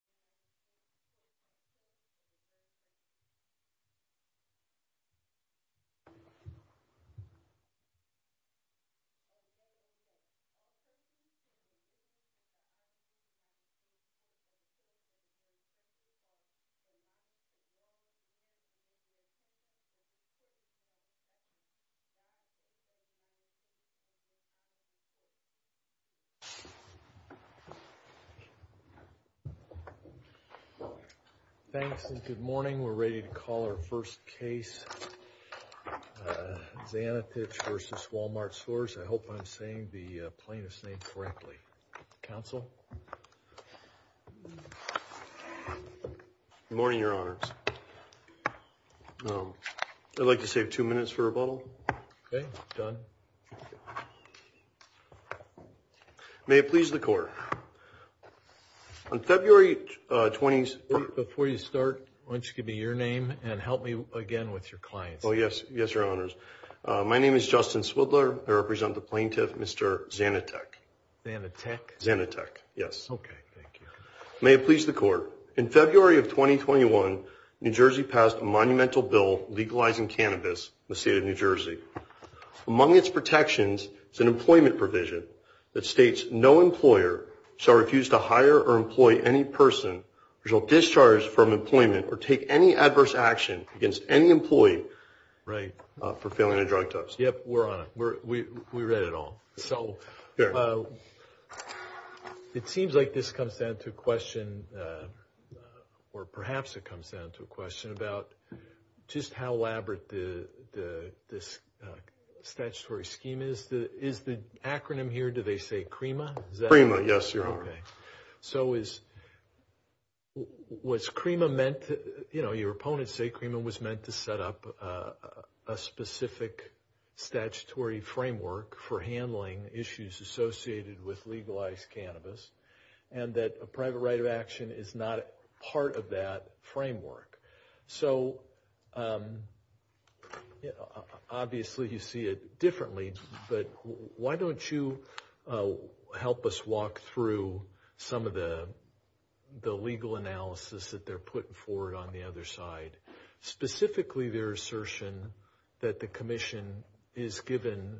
Walmart Stores East INC Thanks and good morning. We're ready to call our first case. Zanetich v. Walmart Stores. I hope I'm saying the plaintiff's name correctly. Counsel? Good morning, Your Honors. I'd like to save two minutes for rebuttal. Okay. Done. May it please the court. On February 20th. Before you start, why don't you give me your name and help me again with your clients? Oh, yes. Yes, Your Honors. My name is Justin Swidler. I represent the plaintiff, Mr. Zanetich. Zanetich? Zanetich. Yes. Okay. Thank you. May it please the court. In February of 2021, New Jersey passed a monumental bill legalizing cannabis in the state of New Jersey. Among its protections is an employment provision that states no employer shall refuse to hire or employ any person who shall discharge from employment or take any adverse action against any employee for failing a drug test. Yep. We're on it. We read it all. So it seems like this comes down to a question or perhaps it comes down to a question about just how elaborate this statutory scheme is. Is the acronym here, do they say CREMA? CREMA. Yes, Your Honor. Okay. So is, was CREMA meant to, you know, your opponents say CREMA was meant to set up a specific statutory framework for handling issues associated with legalized cannabis and that a private right of action is not part of that framework. So obviously you see it differently, but why don't you help us walk through some of the, the legal analysis that they're putting forward on the other side, specifically their assertion that the commission is given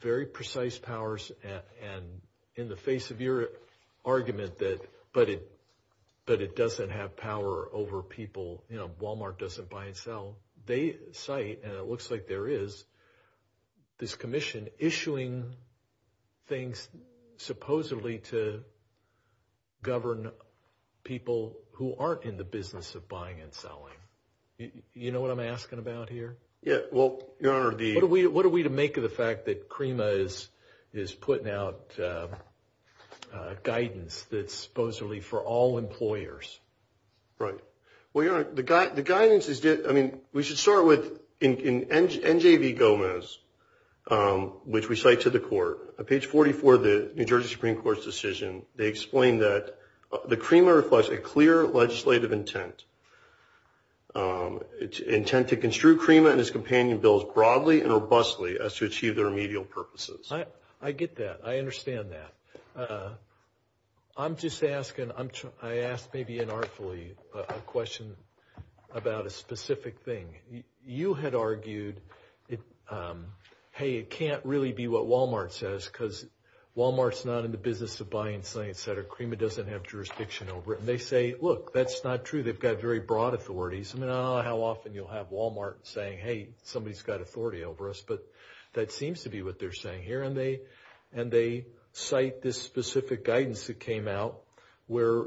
very precise powers and in the face of your argument that, but it, but it doesn't have power over people. You know, Walmart doesn't buy and sell. They cite, and it looks like there is this commission issuing things supposedly to govern people who aren't in the business of buying and selling. You know what I'm asking about here? Yeah, well, Your Honor, the... What are we, what are we to make of the fact that CREMA is, is putting out guidance that's supposedly for all employers? Right. Well, Your Honor, the guidance is, I mean, we should start with, in NJV Gomez, which we cite to the court, page 44 of the New Jersey Supreme Court's decision, they explain that the CREMA reflects a clear legislative intent. It's intent to construe CREMA and its companion bills broadly and robustly as to achieve their remedial purposes. I get that. I understand that. I'm just asking, I'm trying, I asked maybe inartfully a question about a specific thing. You had argued it, hey, it can't really be what Walmart says because Walmart's not in the business of buying and selling, et cetera. CREMA doesn't have jurisdiction over it. And they say, look, that's not true. They've got very broad authorities. I mean, I don't know how often you'll have Walmart saying, hey, somebody's got authority over us, but that seems to be what they're saying here. And they cite this specific guidance that came out where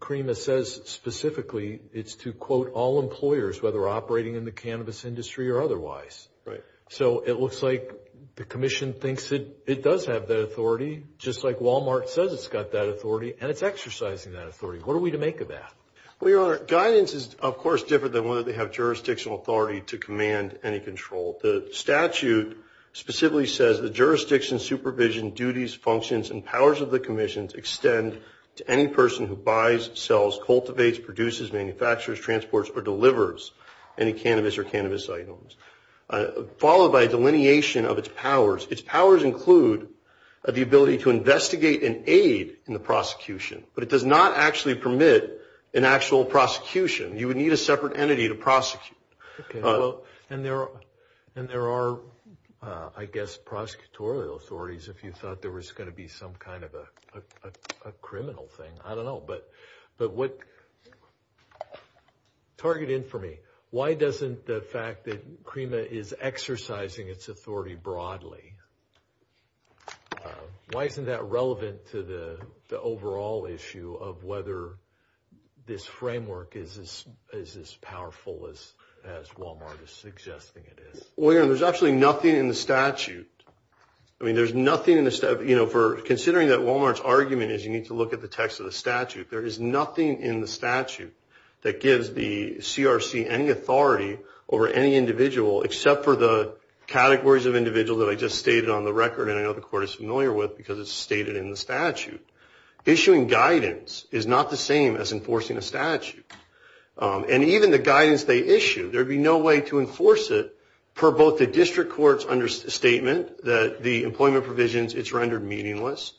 CREMA says specifically it's to, quote, all employers, whether operating in the cannabis industry or otherwise. Right. So it looks like the commission thinks it does have that authority, just like Walmart says it's got that authority, and it's exercising that authority. What are we to make of that? Well, Your Honor, guidance is, of course, different than whether they have jurisdictional authority to command any control. The statute specifically says the jurisdiction, supervision, duties, functions, and powers of the commissions extend to any person who buys, sells, cultivates, produces, manufactures, transports, or delivers any cannabis or cannabis items, followed by a delineation of its powers. Its powers include the ability to investigate and aid in the prosecution. But it does not actually permit an actual prosecution. You would need a separate entity to prosecute. Okay. Well, and there are, I guess, prosecutorial authorities, if you thought there was going to be some kind of a criminal thing. I don't know. But what, target in for me, why doesn't the fact that CREMA is exercising its authority broadly, why isn't that relevant to the overall issue of whether this framework is as powerful as it is? Well, Your Honor, there's actually nothing in the statute. I mean, there's nothing in the statute. You know, considering that Walmart's argument is you need to look at the text of the statute, there is nothing in the statute that gives the CRC any authority over any individual except for the categories of individuals that I just stated on the record and I know the court is familiar with because it's stated in the statute. Issuing guidance is not the same as enforcing a statute. And even the guidance they issue, there'd be no way to enforce it per both the district court's understatement that the employment provisions, it's rendered meaningless.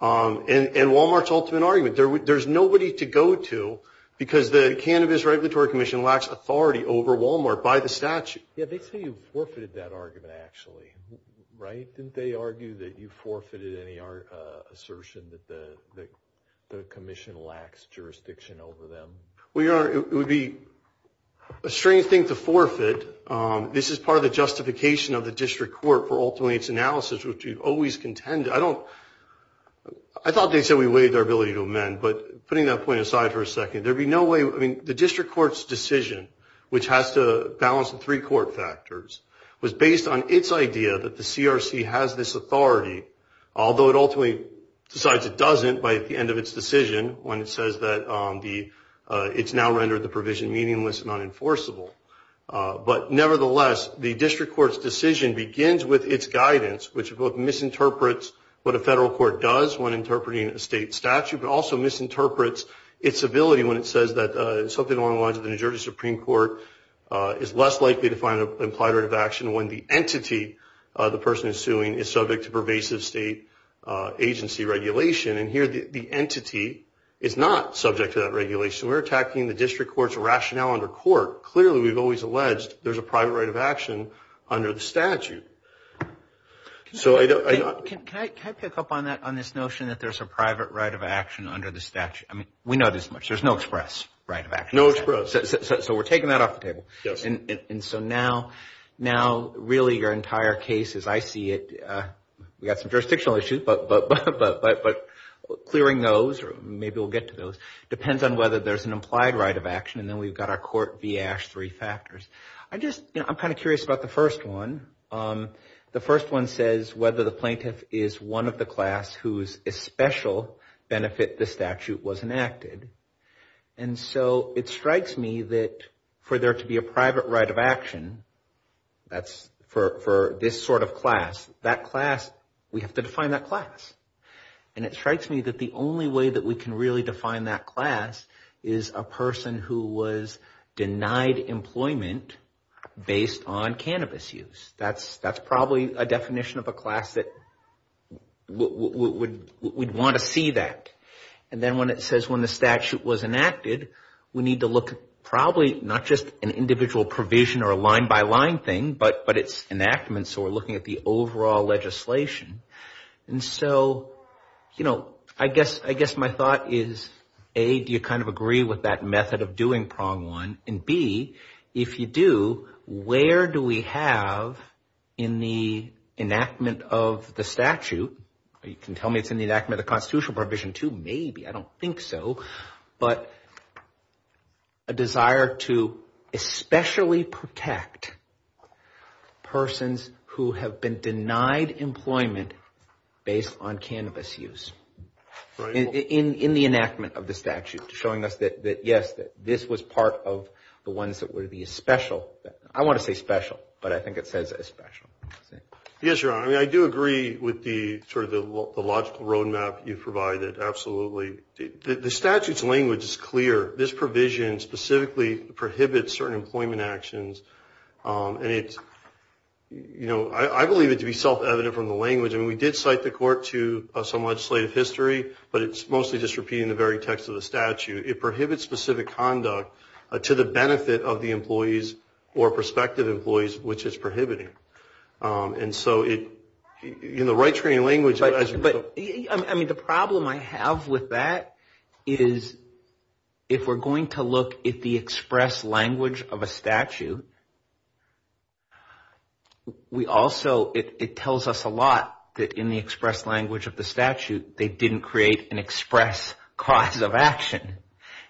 And Walmart's ultimate argument, there's nobody to go to because the Cannabis Regulatory Commission lacks authority over Walmart by the statute. Yeah, they say you forfeited that argument actually, right? Didn't they argue that you forfeited any assertion that the commission lacks jurisdiction over them? Well, Your Honor, it would be a strange thing to forfeit. This is part of the justification of the district court for ultimately its analysis, which we've always contended. I thought they said we waived our ability to amend, but putting that point aside for a second, there'd be no way. The district court's decision, which has to balance the three court factors, was based on its idea that the CRC has this authority, although it ultimately decides it doesn't by the end of its decision when it says that it's now rendered the provision meaningless and unenforceable. But nevertheless, the district court's decision begins with its guidance, which both misinterprets what a federal court does when interpreting a state statute, but also misinterprets its ability when it says that something along the lines of the New Jersey Supreme Court is less likely to find an implied right of action when the entity the person is suing is subject to pervasive state agency regulation. And here, the entity is not subject to that regulation. We're attacking the district court's rationale under court. Clearly, we've always alleged there's a private right of action under the statute. Can I pick up on this notion that there's a private right of action under the statute? I mean, we know this much. There's no express right of action. So we're taking that off the table. And so now, really, your entire case, as I see it, we've got some jurisdictional issues, but clearing those, or maybe we'll get to those, depends on whether there's an implied right of action. And then we've got our court v. Ash, three factors. I just, you know, I'm kind of curious about the first one. The first one says whether the plaintiff is one of the class whose especial benefit the statute was enacted. And so it strikes me that for there to be a private right of action, that's for this sort of class, that class, we have to define that class. And it strikes me that the only way that we can really define that class is a person who was denied employment based on cannabis use. That's probably a definition of a class that we'd want to see that. And then when it says when the statute was enacted, we need to look at probably not just an individual provision or a line-by-line thing, but its enactment. So we're looking at the overall legislation. And so, you know, I guess my thought is, A, do you kind of agree with that method of doing prong one? And, B, if you do, where do we have in the enactment of the statute? You can tell me it's in the enactment of the constitutional provision, too. Maybe. I don't think so. But a desire to especially protect persons who have been denied employment based on cannabis use. In the enactment of the statute, showing us that, yes, this was part of the ones that were the especial. I want to say special, but I think it says especial. Yes, Your Honor. I mean, I do agree with the sort of the logical roadmap you provided. Absolutely. The statute's language is clear. This provision specifically prohibits certain employment actions. And it's, you know, I believe it to be self-evident from the language. And we did cite the court to some legislative history, but it's mostly just repeating the very text of the statute. It prohibits specific conduct to the benefit of the employees or prospective employees, which it's prohibiting. And so it, you know, right screen language. But I mean, the problem I have with that is if we're going to look at the express language of a statute, we also it tells us a lot that in the express language of the statute, they didn't create an express cause of action.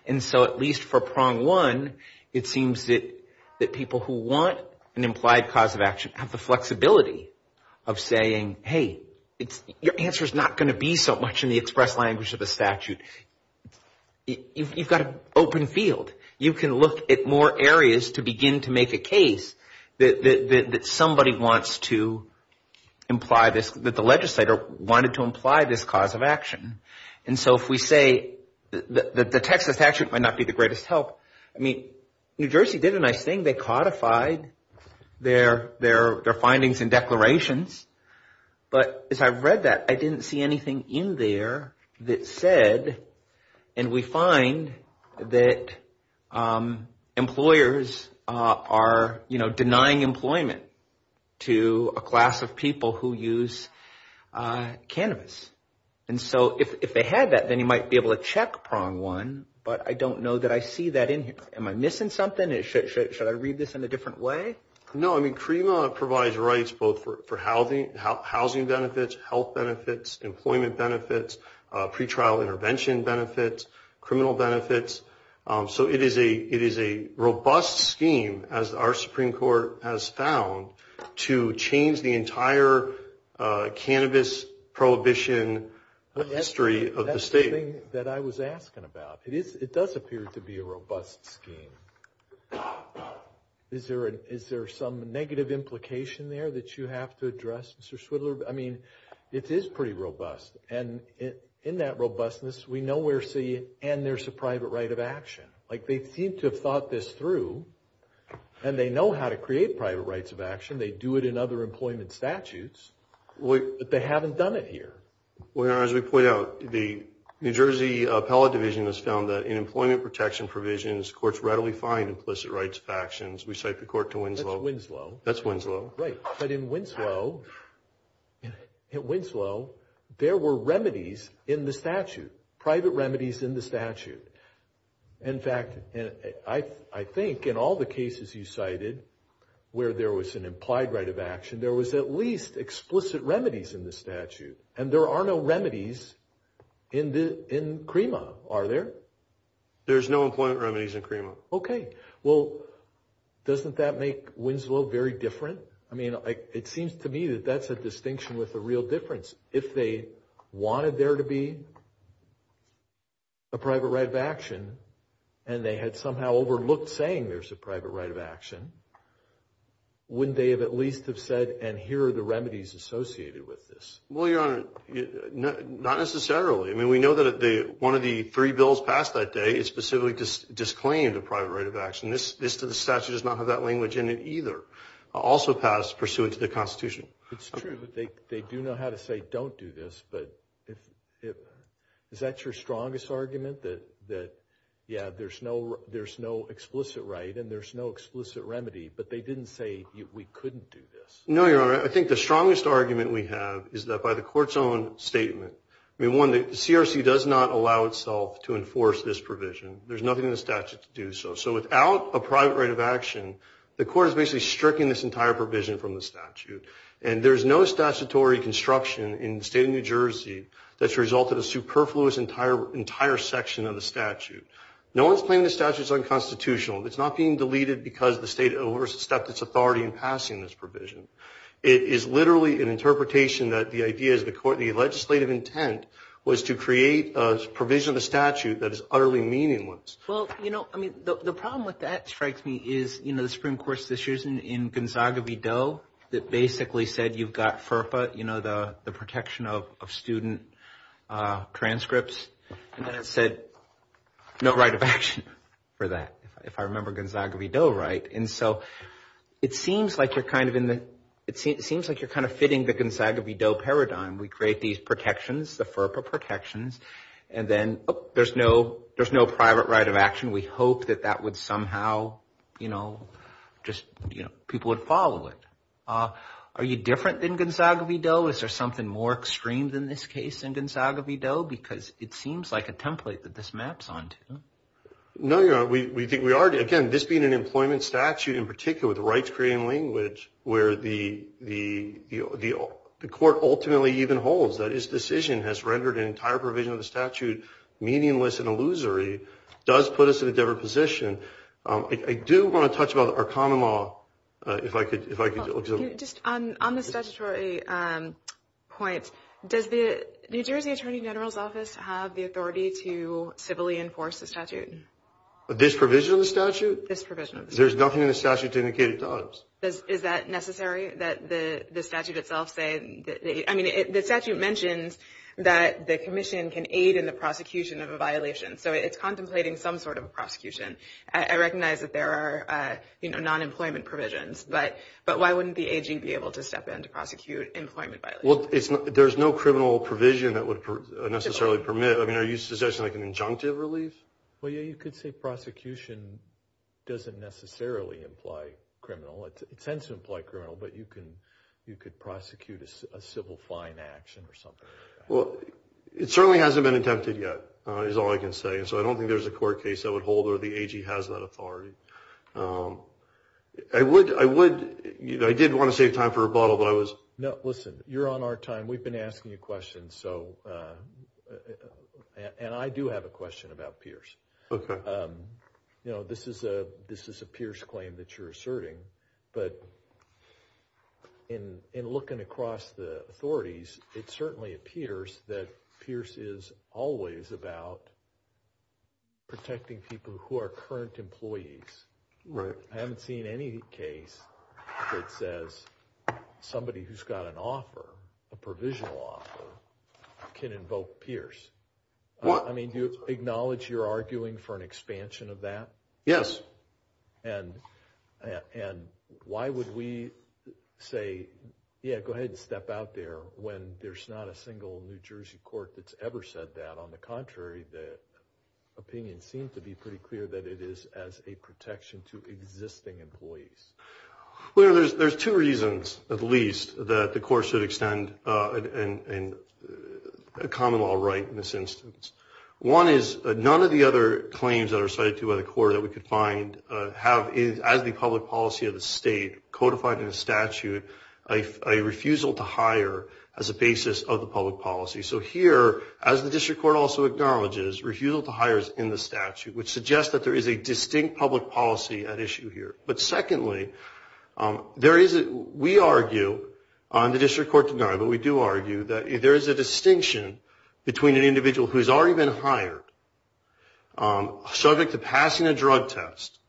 And so at least for prong one, it seems that people who want an implied cause of action have the flexibility of saying, hey, your answer's not going to be so much in the express language of the statute. You've got an open field. You can look at more areas to begin to make a case that somebody wants to imply this, that the legislator wanted to imply this cause of action. And so if we say that the Texas statute might not be the greatest help, I mean, New Jersey did a nice thing. They codified their findings and declarations. But as I read that, I didn't see anything in there that said, and we find that employers are denying employment to a class of people who use cannabis. And so if they had that, then you might be able to check prong one, but I don't know that I see that in here. Am I missing something? Should I read this in a different way? No, I mean, CREMA provides rights both for housing benefits, health benefits, employment benefits, pretrial intervention benefits, criminal benefits. So it is a robust scheme, as our Supreme Court has found, to change the entire cannabis prohibition history of the state. That's the thing that I was asking about. It does appear to be a robust scheme. Is there some negative implication there that you have to address, Mr. Swidler? I mean, it is pretty robust. And in that robustness, we nowhere see, and there's a private right of action. Like, they seem to have thought this through, and they know how to create private rights of action. They do it in other employment statutes, but they haven't done it here. Well, Your Honor, as we point out, the New Jersey Appellate Division has found that in employment protection provisions, courts readily find implicit rights of actions. We cite the court to Winslow. That's Winslow. Right. But in Winslow, there were remedies in the statute, private remedies in the statute. In fact, I think in all the cases you cited where there was an implied right of action, there was at least explicit remedies in the statute. And there are no remedies in CREMA, are there? There's no employment remedies in CREMA. Okay. Well, doesn't that make Winslow very different? I mean, it seems to me that that's a distinction with a real difference. If they wanted there to be a private right of action, and they had somehow overlooked saying there's a private right of action, wouldn't they have at least have said, and here are the remedies associated with this? Well, Your Honor, not necessarily. I mean, we know that one of the three bills passed that day specifically disclaimed a private right of action. This statute does not have that language in it either. Also passed pursuant to the Constitution. It's true that they do know how to say don't do this, but is that your strongest argument? That, yeah, there's no explicit right and there's no explicit remedy, but they didn't say we couldn't do this? No, Your Honor. I think the strongest argument we have is that by the court's own statement. I mean, one, the CRC does not allow itself to enforce this provision. There's nothing in the statute to do so. So without a private right of action, the court has basically stricken this entire provision from the statute. And there's no statutory construction in the state of New Jersey that's resulted in a superfluous entire section of the statute. No one's claiming the statute's unconstitutional. It's not being deleted because the state overstepped its authority in passing this provision. It is literally an interpretation that the idea is the legislative intent was to create a provision of the statute that is utterly meaningless. Well, you know, I mean, the problem with that strikes me is, you know, the Supreme Court's decision in Gonzaga v. Doe that basically said you've got FERPA, you know, the protection of student transcripts. And then it said no right of action for that, if I remember Gonzaga v. Doe right. And so it seems like you're kind of in the it seems like you're kind of fitting the Gonzaga v. Doe paradigm. We create these protections, the FERPA protections, and then there's no private right of action. We hope that that would somehow, you know, just people would follow it. Are you different than Gonzaga v. Doe? Is there something more extreme than this case in Gonzaga v. Doe? Because it seems like a template that this maps onto. No, you know, we think we are. Again, this being an employment statute in particular with rights creating language where the court ultimately even holds that this decision has rendered an entire provision of the statute meaningless and illusory does put us in a different position. I do want to touch upon our common law, if I could. Just on the statutory point, does the New Jersey Attorney General's office have the authority to civilly enforce the statute? This provision of the statute? This provision of the statute. There's nothing in the statute to indicate it does. Is that necessary that the statute itself say? I mean, the statute mentions that the commission can aid in the prosecution of a violation. So it's contemplating some sort of a prosecution. I recognize that there are, you know, non-employment provisions. But why wouldn't the AG be able to step in to prosecute employment violations? There's no criminal provision that would necessarily permit. I mean, are you suggesting like an injunctive relief? Well, yeah, you could say prosecution doesn't necessarily imply criminal. It tends to imply criminal, but you could prosecute a civil fine action or something like that. Well, it certainly hasn't been attempted yet is all I can say. And so I don't think there's a court case that would hold where the AG has that authority. I would, you know, I did want to save time for rebuttal, but I was. No, listen, you're on our time. We've been asking you questions. And I do have a question about Pierce. Okay. You know, this is a Pierce claim that you're asserting. But in looking across the authorities, it certainly appears that Pierce is always about protecting people who are current employees. Right. I haven't seen any case that says somebody who's got an offer, a provisional offer, can invoke Pierce. I mean, do you acknowledge you're arguing for an expansion of that? Yes. And why would we say, yeah, go ahead and step out there when there's not a single New Jersey court that's ever said that? On the contrary, the opinion seems to be pretty clear that it is as a protection to existing employees. Well, there's two reasons, at least, that the court should extend a common law right in this instance. One is none of the other claims that are cited by the court that we could find have, as the public policy of the state, codified in the statute a refusal to hire as a basis of the public policy. So here, as the district court also acknowledges, refusal to hire is in the statute, which suggests that there is a distinct public policy at issue here. But secondly, there is a – we argue on the district court tonight, but we do argue that there is a distinction between an individual who has already been hired, subject to passing a drug test,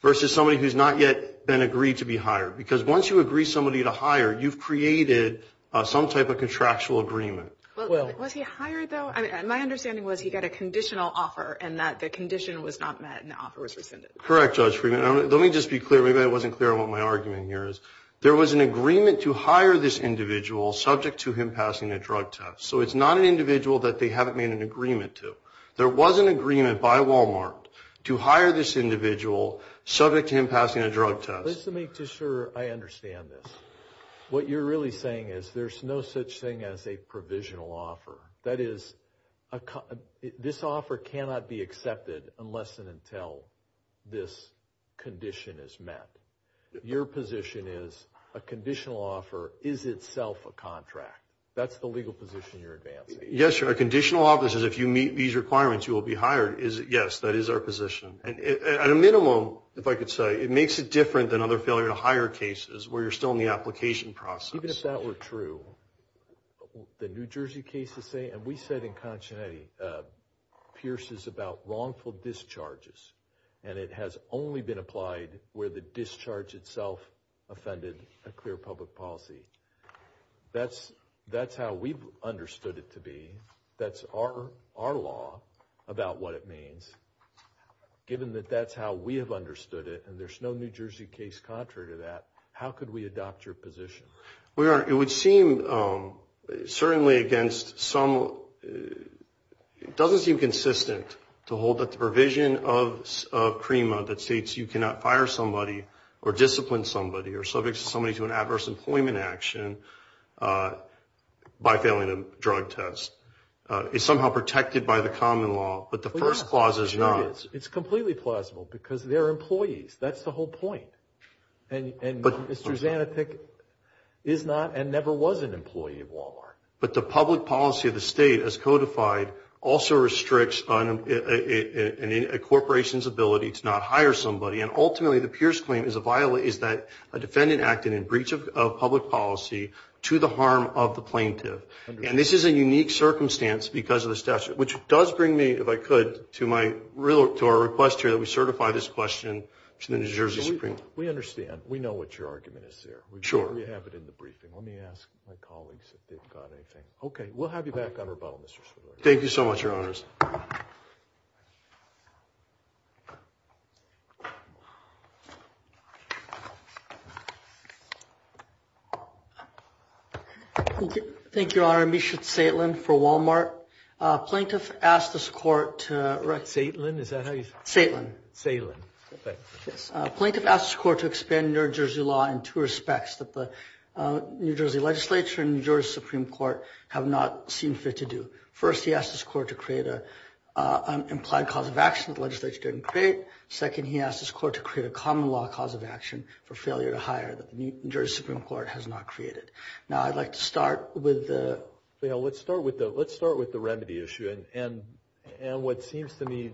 versus somebody who's not yet been agreed to be hired. Because once you agree somebody to hire, you've created some type of contractual agreement. Well, was he hired, though? My understanding was he got a conditional offer and that the condition was not met and the offer was rescinded. Correct, Judge Freeman. Let me just be clear. Maybe I wasn't clear on what my argument here is. There was an agreement to hire this individual subject to him passing a drug test. So it's not an individual that they haven't made an agreement to. There was an agreement by Walmart to hire this individual subject to him passing a drug test. Just to make sure I understand this, what you're really saying is there's no such thing as a provisional offer. That is, this offer cannot be accepted unless and until this condition is met. Your position is a conditional offer is itself a contract. That's the legal position you're advancing. Yes, sir. A conditional offer is if you meet these requirements, you will be hired. Yes, that is our position. At a minimum, if I could say, it makes it different than other failure-to-hire cases where you're still in the application process. Even if that were true, the New Jersey cases say, and we said in Concinetti, Pierce is about wrongful discharges and it has only been applied where the discharge itself offended a clear public policy. That's how we've understood it to be. That's our law about what it means, given that that's how we have understood it and there's no New Jersey case contrary to that. How could we adopt your position? Well, Your Honor, it would seem certainly against some... It doesn't seem consistent to hold that the provision of CREMA that states you cannot fire somebody or discipline somebody or subject somebody to an adverse employment action by failing a drug test is somehow protected by the common law, but the first clause is not. It's completely plausible because they're employees. That's the whole point. And Mr. Zanopik is not and never was an employee of Walmart. But the public policy of the state as codified also restricts a corporation's ability to not hire somebody and ultimately the Pierce claim is that a defendant acted in breach of public policy to the harm of the plaintiff. And this is a unique circumstance because of the statute, which does bring me, if I could, to our request here that we certify this question to the New Jersey Supreme Court. We understand. We know what your argument is there. Sure. We have it in the briefing. Let me ask my colleagues if they've got anything. Okay. We'll have you back on rebuttal, Mr. Swiller. Thank you so much, Your Honors. Thank you, Your Honors. Thank you, Your Honor. Misha Zaitlin for Walmart. Plaintiff asked this court to – Zaitlin? Is that how you say it? Zaitlin. Zaitlin. Okay. Plaintiff asked this court to expand New Jersey law in two respects that the New Jersey legislature and New Jersey Supreme Court have not seen fit to do. First, he asked this court to create an implied cause of action that the legislature didn't create. Second, he asked this court to create a common law cause of action for failure to hire that the New Jersey Supreme Court has not created. Now, I'd like to start with the – Well, let's start with the remedy issue. And what seems to me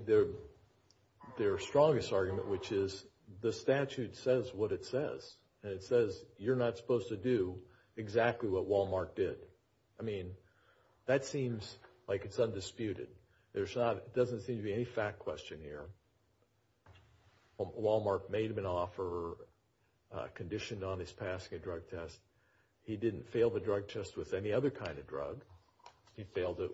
their strongest argument, which is the statute says what it says. And it says you're not supposed to do exactly what Walmart did. I mean, that seems like it's undisputed. There's not – it doesn't seem to be any fact question here. Walmart made him an offer conditioned on his passing a drug test. He didn't fail the drug test with any other kind of drug. He failed it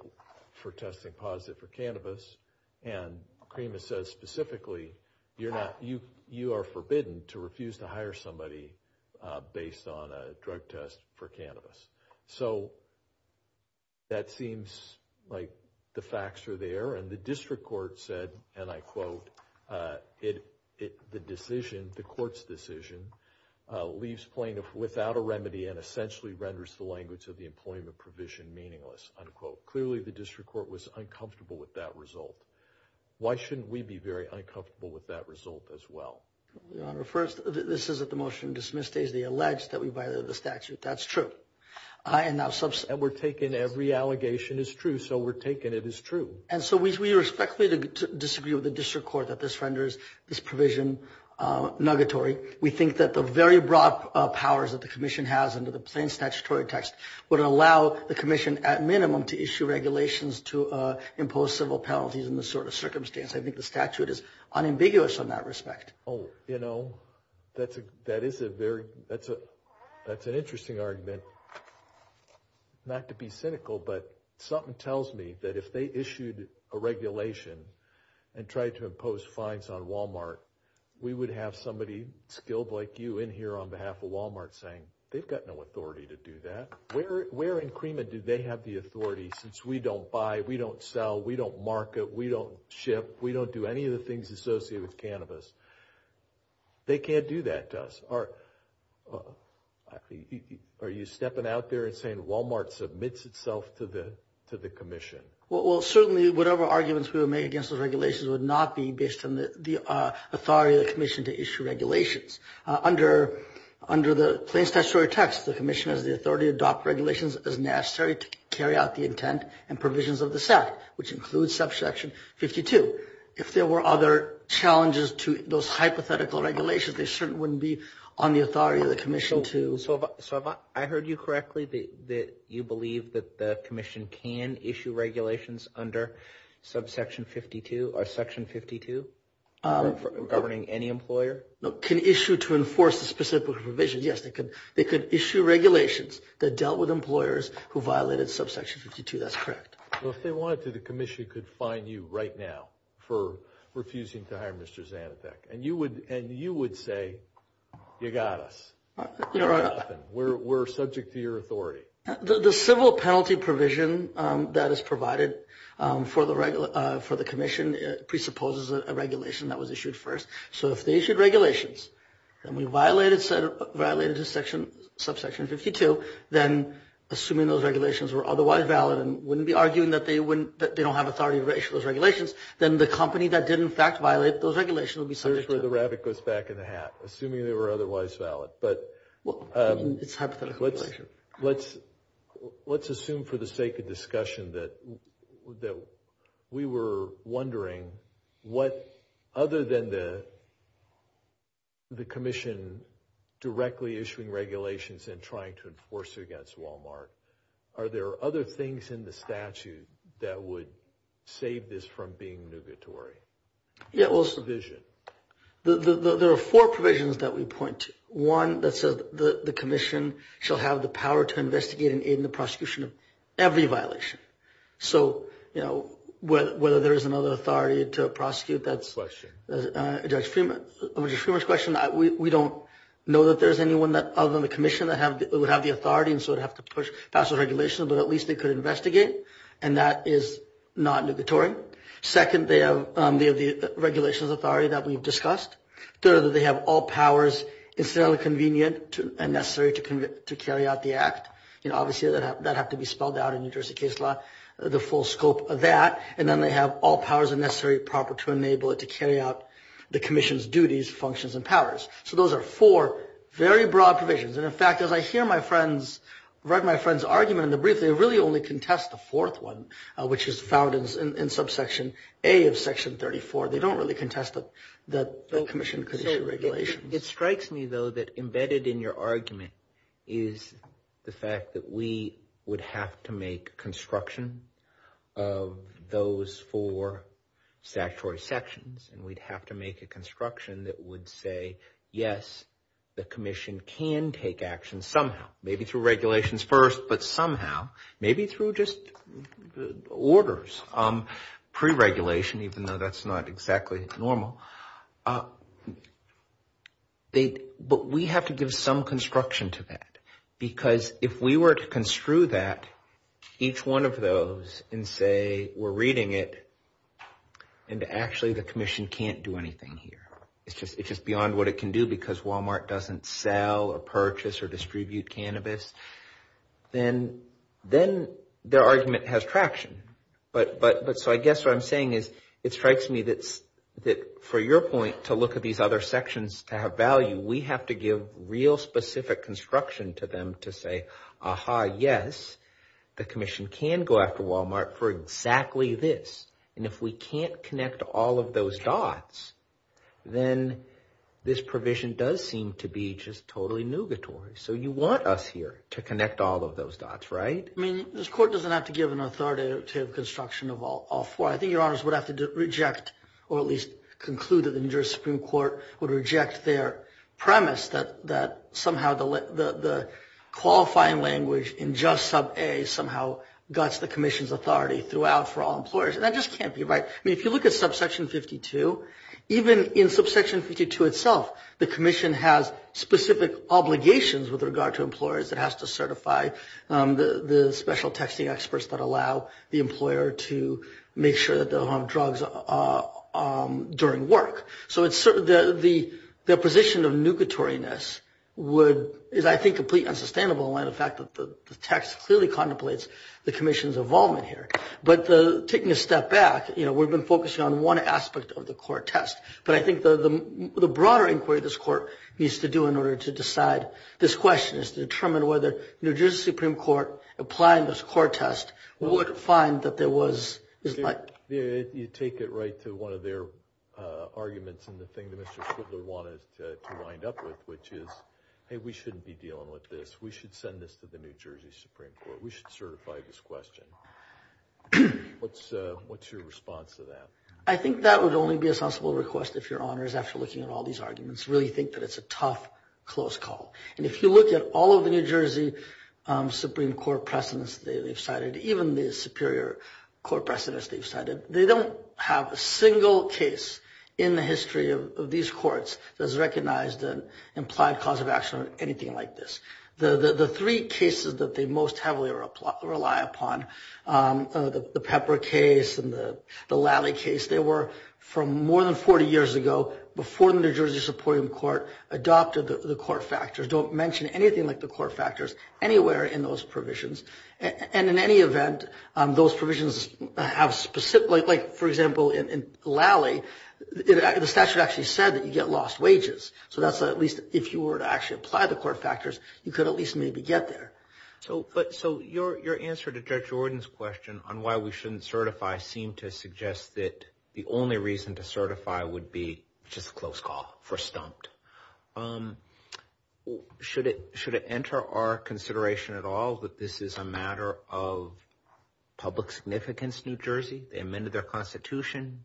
for testing positive for cannabis. And CREMA says specifically you're not – you are forbidden to refuse to hire somebody based on a drug test for cannabis. So that seems like the facts are there. And the district court said, and I quote, the decision, the court's decision, leaves plaintiff without a remedy and essentially renders the language of the employment provision meaningless, unquote. Clearly, the district court was uncomfortable with that result. Why shouldn't we be very uncomfortable with that result as well? Your Honor, first, this is at the motion dismiss stage. They allege that we violated the statute. That's true. And we're taking every allegation as true, so we're taking it as true. And so we respectfully disagree with the district court that this renders this provision nuggatory. We think that the very broad powers that the commission has under the plain statutory text would allow the commission at minimum to issue regulations to impose civil penalties in this sort of circumstance. I think the statute is unambiguous in that respect. Oh, you know, that is a very, that's an interesting argument. Not to be cynical, but something tells me that if they issued a regulation and tried to impose fines on Walmart, we would have somebody skilled like you in here on behalf of Walmart saying, they've got no authority to do that. Where in Cremon do they have the authority since we don't buy, we don't sell, we don't market, we don't ship, we don't do any of the things associated with cannabis? They can't do that to us. Are you stepping out there and saying Walmart submits itself to the commission? Well, certainly whatever arguments we would make against those regulations would not be based on the authority of the commission to issue regulations. Under the plain statutory text, the commission has the authority to adopt regulations as necessary to carry out the intent and provisions of the SEC, which includes subsection 52. If there were other challenges to those hypothetical regulations, they certainly wouldn't be on the authority of the commission to. So I heard you correctly, that you believe that the commission can issue regulations under subsection 52, or section 52 governing any employer? No, can issue to enforce the specific provisions. Yes, they could. They could issue regulations that dealt with employers who violated subsection 52. That's correct. If they wanted to, the commission could fine you right now for refusing to hire Mr. Zanatek. And you would say, you got us. We're subject to your authority. The civil penalty provision that is provided for the commission presupposes a regulation that was issued first. So if they issued regulations and we violated subsection 52, then assuming those regulations were otherwise valid and wouldn't be arguing that they don't have authority to issue those regulations, then the company that did in fact violate those regulations would be subject to. That's where the rabbit goes back in the hat, assuming they were otherwise valid. But let's assume for the sake of discussion that we were wondering what, other than the commission directly issuing regulations and trying to enforce it against Walmart, are there other things in the statute that would save this from being nugatory? There are four provisions that we point to. One that says the commission shall have the power to investigate and aid in the prosecution of every violation. So, you know, whether there is another authority to prosecute that's, over to Judge Freeman's question, we don't know that there's anyone other than the commission that would have the authority and so would have to push past those regulations, but at least they could investigate. And that is not nugatory. Second, they have the regulations authority that we've discussed. Third, they have all powers necessarily convenient and necessary to carry out the act. You know, obviously that would have to be spelled out in New Jersey case law, the full scope of that. And then they have all powers and necessary proper to enable it to carry out the commission's duties, functions, and powers. So those are four very broad provisions. And, in fact, as I hear my friends write my friend's argument in the brief, they really only contest the fourth one, which is found in subsection A of section 34. They don't really contest that the commission could issue regulations. It strikes me, though, that embedded in your argument is the fact that we would have to make construction of those four statutory sections. And we'd have to make a construction that would say, yes, the commission can take action somehow, maybe through regulations first, but somehow, maybe through just orders, pre-regulation, even though that's not exactly normal. But we have to give some construction to that. Because if we were to construe that, each one of those, and say we're reading it, and actually the commission can't do anything here. It's just beyond what it can do because Walmart doesn't sell or purchase or distribute cannabis. Then their argument has traction. But so I guess what I'm saying is it strikes me that for your point to look at these other sections to have value, we have to give real specific construction to them to say, aha, yes, the commission can go after Walmart for exactly this. And if we can't connect all of those dots, then this provision does seem to be just totally nugatory. So you want us here to connect all of those dots, right? I mean, this court doesn't have to give an authoritative construction of all four. I think your honors would have to reject or at least conclude that the New Jersey Supreme Court would reject their premise that somehow the qualifying language in just sub A somehow guts the commission's authority throughout for all employers. And that just can't be right. I mean, if you look at subsection 52, even in subsection 52 itself, the commission has specific obligations with regard to employers. It has to certify the special texting experts that allow the employer to make sure that they don't have drugs during work. So it's the position of nugatoriness would is, I think, completely unsustainable. In fact, the text clearly contemplates the commission's involvement here. But taking a step back, you know, we've been focusing on one aspect of the court test. But I think the broader inquiry this court needs to do in order to decide this question is to determine whether New Jersey Supreme Court applying this court test would find that there was is like you take it right to one of their arguments. And the thing that Mr. Schindler wanted to wind up with, which is, hey, we shouldn't be dealing with this. We should send this to the New Jersey Supreme Court. We should certify this question. What's what's your response to that? I think that would only be a sensible request if your honors, after looking at all these arguments, really think that it's a tough, close call. And if you look at all of the New Jersey Supreme Court precedents they've cited, even the superior court precedents they've cited, they don't have a single case in the history of these courts that's recognized an implied cause of action or anything like this. The three cases that they most heavily rely upon, the Pepper case and the Lally case, they were from more than 40 years ago, before the New Jersey Supreme Court adopted the court factors. Don't mention anything like the court factors anywhere in those provisions. And in any event, those provisions have specific, like, for example, in Lally, the statute actually said that you get lost wages. So that's at least, if you were to actually apply the court factors, you could at least maybe get there. So your answer to Judge Jordan's question on why we shouldn't certify seemed to suggest that the only reason to certify would be just a close call, for stumped. Should it enter our consideration at all that this is a matter of public significance, New Jersey? They amended their constitution.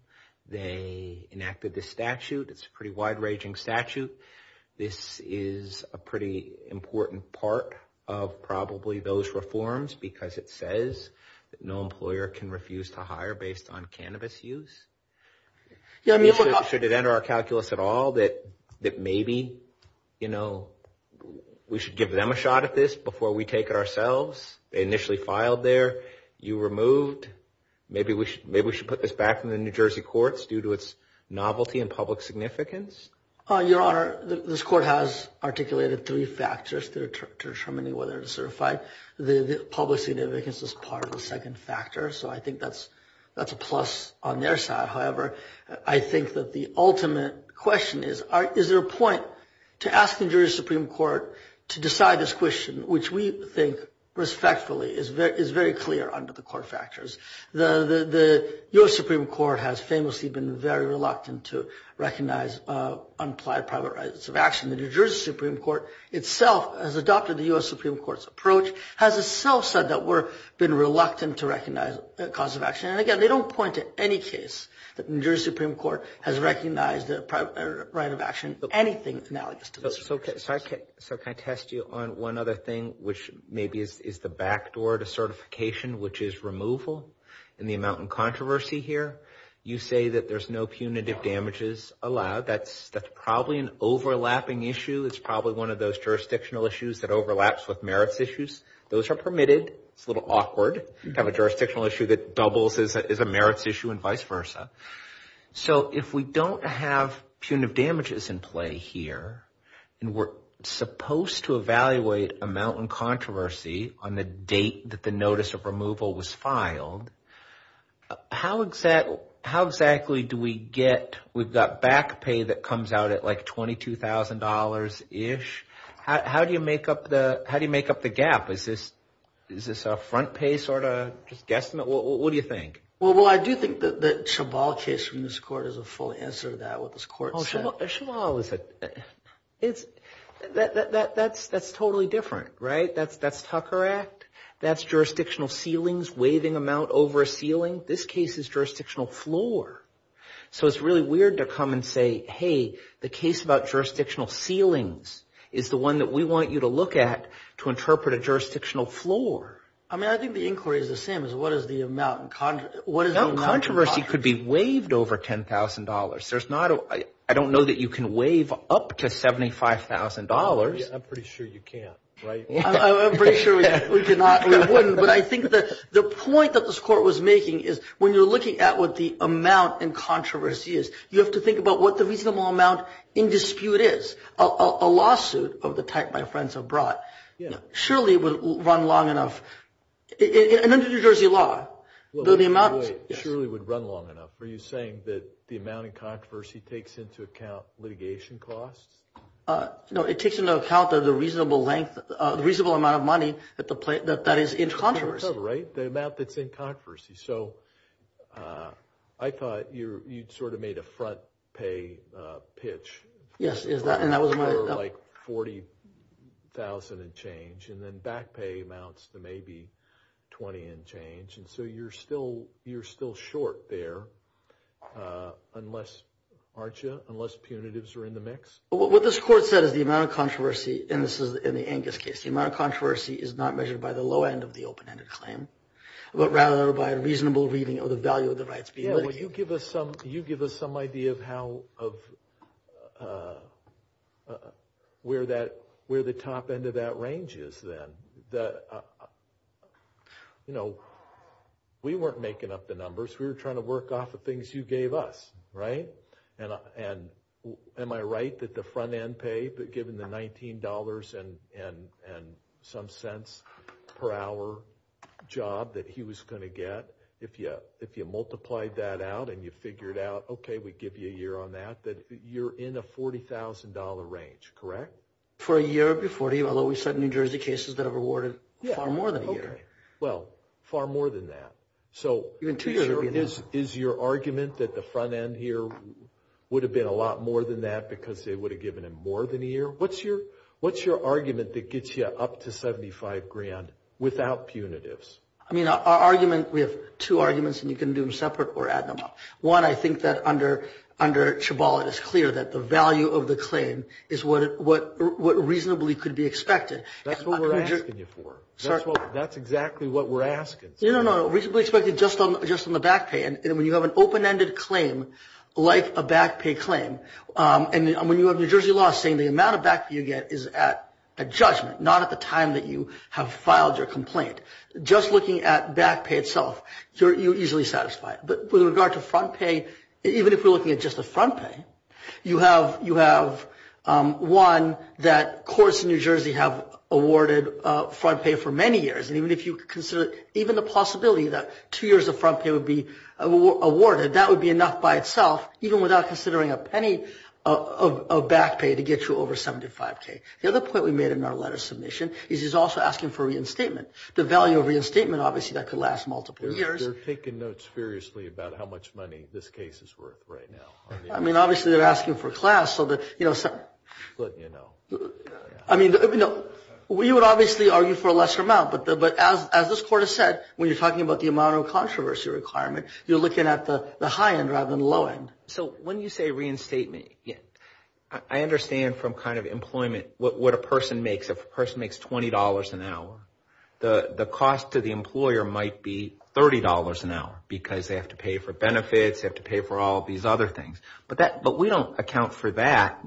They enacted the statute. It's a pretty wide-ranging statute. This is a pretty important part of probably those reforms because it says that no employer can refuse to hire based on cannabis use. Should it enter our calculus at all that maybe, you know, we should give them a shot at this before we take it ourselves? They initially filed there. You removed. Maybe we should put this back in the New Jersey courts due to its novelty and public significance? Your Honor, this court has articulated three factors to determining whether to certify. The public significance is part of the second factor. So I think that's a plus on their side. However, I think that the ultimate question is, is there a point to ask the New Jersey Supreme Court to decide this question, which we think respectfully is very clear under the court factors. The U.S. Supreme Court has famously been very reluctant to recognize unapplied private rights of action. The New Jersey Supreme Court itself has adopted the U.S. Supreme Court's approach, has itself said that we're been reluctant to recognize a cause of action. And, again, they don't point to any case that the New Jersey Supreme Court has recognized a right of action, anything analogous to this. So can I test you on one other thing, which maybe is the back door to certification, which is removal? In the amount of controversy here, you say that there's no punitive damages allowed. That's probably an overlapping issue. It's probably one of those jurisdictional issues that overlaps with merits issues. Those are permitted. It's a little awkward to have a jurisdictional issue that doubles as a merits issue and vice versa. So if we don't have punitive damages in play here and we're supposed to evaluate amount in controversy on the date that the notice of removal was filed, how exactly do we get – we've got back pay that comes out at like $22,000-ish. How do you make up the gap? Is this a front pay sort of just guesstimate? What do you think? Well, I do think that the Chabal case from this court is a full answer to that, what this court said. Chabal is a – that's totally different, right? That's Tucker Act. That's jurisdictional ceilings, waiving amount over a ceiling. This case is jurisdictional floor. So it's really weird to come and say, hey, the case about jurisdictional ceilings is the one that we want you to look at to interpret a jurisdictional floor. I mean, I think the inquiry is the same as what is the amount. Controversy could be waived over $10,000. There's not – I don't know that you can waive up to $75,000. I'm pretty sure you can't, right? I'm pretty sure we cannot or we wouldn't. But I think that the point that this court was making is when you're looking at what the amount in controversy is, you have to think about what the reasonable amount in dispute is, a lawsuit of the type my friends have brought. Surely it would run long enough. And under New Jersey law, the amount – Wait, wait, wait. Surely it would run long enough. Are you saying that the amount in controversy takes into account litigation costs? No, it takes into account the reasonable length – the reasonable amount of money that is in controversy. Right, the amount that's in controversy. So I thought you sort of made a front pay pitch. Yes. Like $40,000 and change. And then back pay amounts to maybe $20,000 and change. And so you're still short there, aren't you, unless punitives are in the mix? What this court said is the amount of controversy – and this is in the Angus case – the amount of controversy is not measured by the low end of the open-ended claim, but rather by a reasonable reading of the value of the rights being litigated. You give us some idea of where the top end of that range is then. You know, we weren't making up the numbers. We were trying to work off of things you gave us, right? And am I right that the front end pay, given the $19 and some cents per hour job that he was going to get, if you multiplied that out and you figured out, okay, we give you a year on that, that you're in a $40,000 range, correct? For a year, it would be $40,000, although we've had New Jersey cases that have awarded far more than a year. Well, far more than that. So is your argument that the front end here would have been a lot more than that because they would have given him more than a year? What's your argument that gets you up to $75,000 without punitives? I mean, our argument, we have two arguments, and you can do them separate or add them up. One, I think that under Chabal it is clear that the value of the claim is what reasonably could be expected. That's what we're asking you for. That's exactly what we're asking. No, no, no, reasonably expected just on the back pay. And when you have an open-ended claim like a back pay claim, and when you have New Jersey law saying the amount of back pay you get is at judgment, not at the time that you have filed your complaint, just looking at back pay itself, you're easily satisfied. But with regard to front pay, even if we're looking at just the front pay, you have one that courts in New Jersey have awarded front pay for many years, and even if you consider even the possibility that two years of front pay would be awarded, that would be enough by itself even without considering a penny of back pay to get you over $75,000. The other point we made in our letter of submission is he's also asking for reinstatement. The value of reinstatement, obviously, that could last multiple years. They're taking notes furiously about how much money this case is worth right now. I mean, obviously, they're asking for class so that, you know, we would obviously argue for a lesser amount, but as this Court has said, when you're talking about the amount of controversy requirement, you're looking at the high end rather than the low end. So when you say reinstatement, I understand from kind of employment what a person makes. If a person makes $20 an hour, the cost to the employer might be $30 an hour because they have to pay for benefits, they have to pay for all these other things. But we don't account for that.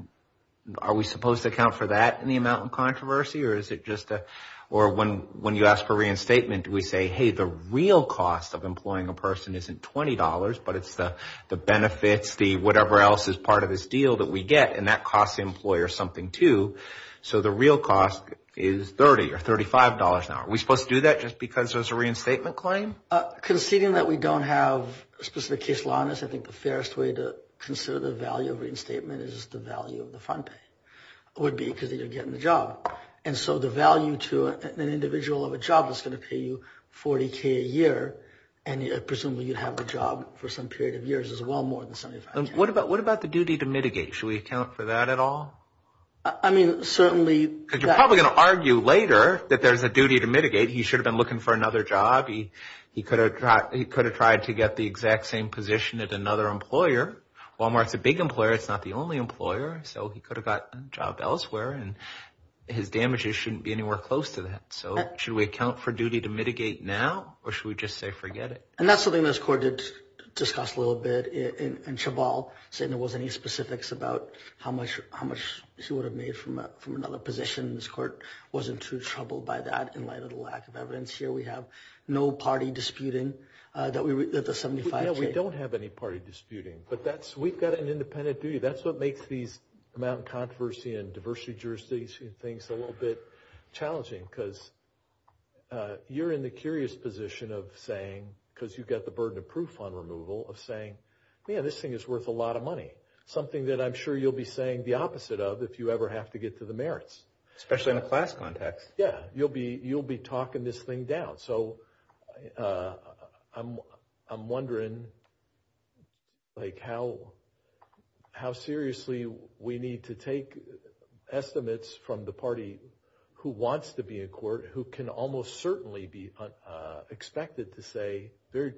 Are we supposed to account for that in the amount of controversy, or is it just a – or when you ask for reinstatement, do we say, hey, the real cost of employing a person isn't $20, but it's the benefits, the whatever else is part of this deal that we get, and that costs the employer something too. So the real cost is $30 or $35 an hour. Are we supposed to do that just because there's a reinstatement claim? Conceding that we don't have a specific case law on this, I think the fairest way to consider the value of reinstatement is the value of the fund pay. It would be because you're getting the job. And so the value to an individual of a job that's going to pay you $40,000 a year, and presumably you'd have the job for some period of years as well more than 75%. What about the duty to mitigate? Should we account for that at all? I mean, certainly – Because you're probably going to argue later that there's a duty to mitigate. He should have been looking for another job. He could have tried to get the exact same position at another employer. Walmart's a big employer. It's not the only employer, so he could have gotten a job elsewhere, and his damages shouldn't be anywhere close to that. So should we account for duty to mitigate now, or should we just say forget it? And that's something this court did discuss a little bit in Chabal, saying there wasn't any specifics about how much she would have made from another position. This court wasn't too troubled by that in light of the lack of evidence here. We have no party disputing that the 75 – No, we don't have any party disputing, but we've got an independent duty. That's what makes these amount of controversy and diversity jurisdictions and things a little bit challenging because you're in the curious position of saying, because you've got the burden of proof on removal, of saying, man, this thing is worth a lot of money, something that I'm sure you'll be saying the opposite of if you ever have to get to the merits. Especially in a class context. Yeah, you'll be talking this thing down. So I'm wondering like how seriously we need to take estimates from the party who wants to be in court, who can almost certainly be expected to say very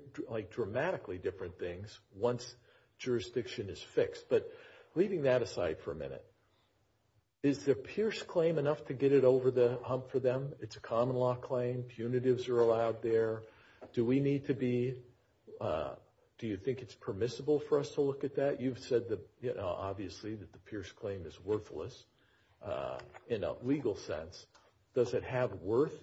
dramatically different things once jurisdiction is fixed. But leaving that aside for a minute, is the Pierce claim enough to get it over the hump for them? It's a common law claim. Punitives are allowed there. Do we need to be – do you think it's permissible for us to look at that? You've said obviously that the Pierce claim is worthless in a legal sense. Does it have worth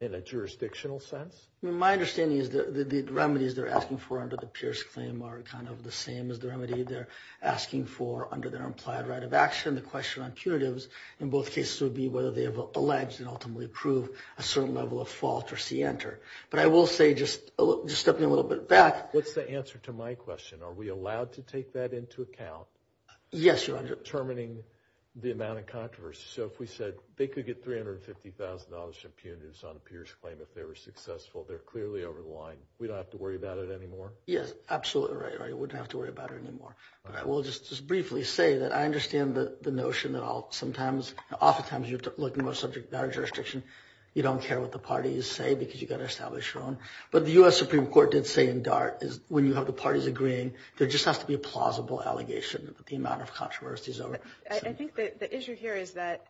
in a jurisdictional sense? My understanding is the remedies they're asking for under the Pierce claim are kind of the same as the remedy they're asking for under their implied right of action. The question on punitives in both cases would be whether they have alleged and ultimately approved a certain level of fault or see enter. But I will say just stepping a little bit back. What's the answer to my question? Are we allowed to take that into account? Yes, Your Honor. Determining the amount of controversy. So if we said they could get $350,000 in punitives on a Pierce claim if they were successful, they're clearly over the line. We don't have to worry about it anymore? Yes, absolutely right. We don't have to worry about it anymore. I will just briefly say that I understand the notion that I'll sometimes, oftentimes you're looking at a subject matter jurisdiction, you don't care what the parties say because you've got to establish your own. But the U.S. Supreme Court did say in DART is when you have the parties agreeing, there just has to be a plausible allegation that the amount of controversy is over. I think the issue here is that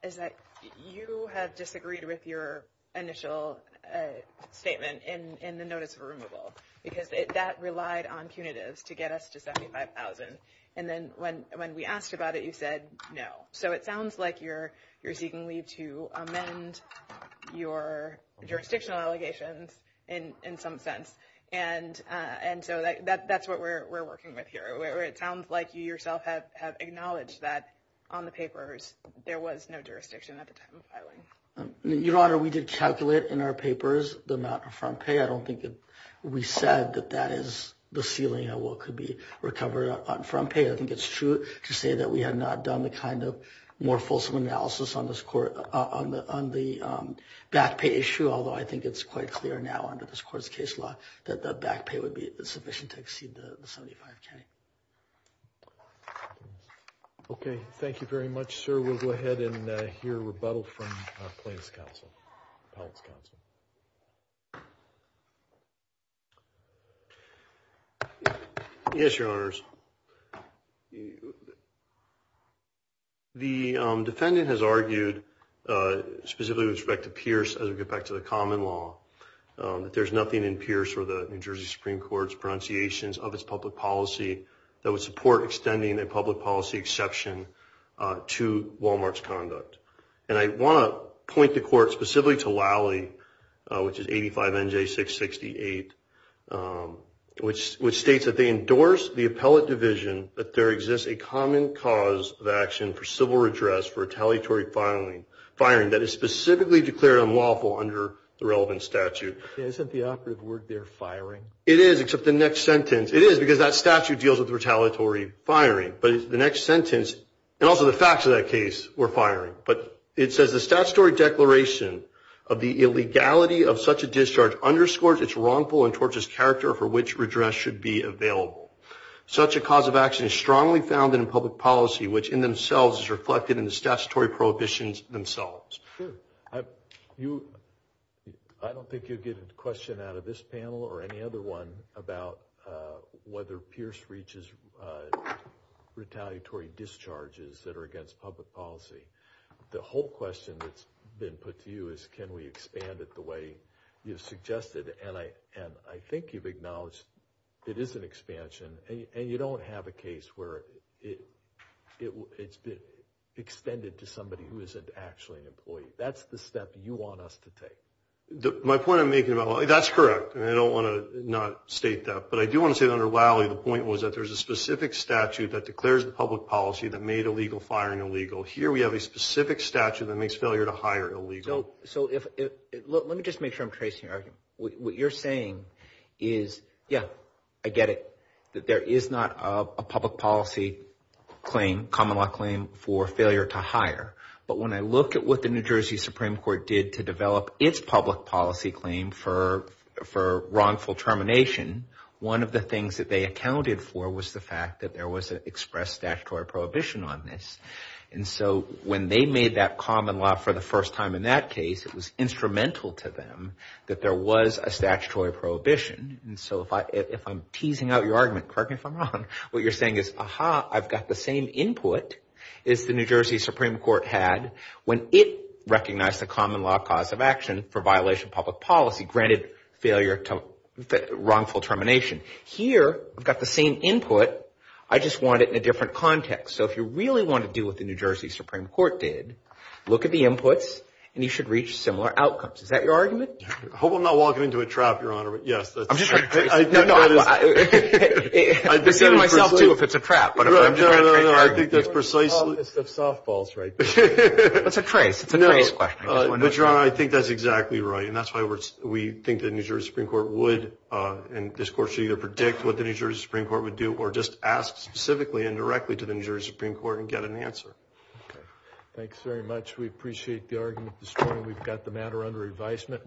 you have disagreed with your initial statement in the notice of removal because that relied on punitives to get us to $75,000. And then when we asked about it, you said no. So it sounds like you're seeking leave to amend your jurisdictional allegations in some sense. And so that's what we're working with here. It sounds like you yourself have acknowledged that on the papers there was no jurisdiction at the time of filing. Your Honor, we did calculate in our papers the amount of front pay. I don't think we said that that is the ceiling of what could be recovered on front pay. I think it's true to say that we have not done the kind of more fulsome analysis on the back pay issue, although I think it's quite clear now under this court's case law that the back pay would be sufficient to exceed the $75,000. Okay. Thank you very much, sir. We'll go ahead and hear rebuttal from Plaintiff's Counsel, Appellate's Counsel. Yes, Your Honors. The defendant has argued, specifically with respect to Pierce as we get back to the common law, that there's nothing in Pierce or the New Jersey Supreme Court's pronunciations of its public policy that would support extending a public policy exception to Walmart's conduct. And I want to point the court specifically to Lally, which is 85NJ668, which states that they endorse the appellate division that there exists a common cause of action for civil redress for retaliatory firing that is specifically declared unlawful under the relevant statute. Isn't the operative word there firing? It is, except the next sentence. It is because that statute deals with retaliatory firing. But the next sentence, and also the facts of that case were firing. But it says the statutory declaration of the illegality of such a discharge underscores its wrongful and torches character for which redress should be available. Such a cause of action is strongly founded in public policy, which in themselves is reflected in the statutory prohibitions themselves. Sure. I don't think you'll get a question out of this panel or any other one about whether Pierce reaches retaliatory discharges that are against public policy. The whole question that's been put to you is can we expand it the way you've suggested. And I think you've acknowledged it is an expansion. And you don't have a case where it's been extended to somebody who isn't actually an employee. That's the step you want us to take. My point I'm making, that's correct. I don't want to not state that. But I do want to say that under Wiley the point was that there's a specific statute that declares public policy that made illegal firing illegal. Here we have a specific statute that makes failure to hire illegal. So let me just make sure I'm tracing your argument. What you're saying is, yeah, I get it, that there is not a public policy claim, common law claim for failure to hire. But when I look at what the New Jersey Supreme Court did to develop its public policy claim for wrongful termination, one of the things that they accounted for was the fact that there was an expressed statutory prohibition on this. And so when they made that common law for the first time in that case, it was instrumental to them that there was a statutory prohibition. And so if I'm teasing out your argument, correct me if I'm wrong, what you're saying is, aha, I've got the same input as the New Jersey Supreme Court had when it recognized the common law cause of action for violation of public policy, granted failure to wrongful termination. Here I've got the same input. I just want it in a different context. So if you really want to do what the New Jersey Supreme Court did, look at the inputs, and you should reach similar outcomes. Is that your argument? I hope I'm not walking into a trap, Your Honor. Yes. I'm just trying to trace it. No, no. I've seen it myself, too, if it's a trap. No, no, no. I think that's precisely. We're in the office of softballs right now. That's a trace. It's a trace question. But, Your Honor, I think that's exactly right. And that's why we think the New Jersey Supreme Court would, and this Court should either predict what the New Jersey Supreme Court would do or just ask specifically and directly to the New Jersey Supreme Court and get an answer. Okay. Thanks very much. We appreciate the argument this morning. We've got the matter under advisement.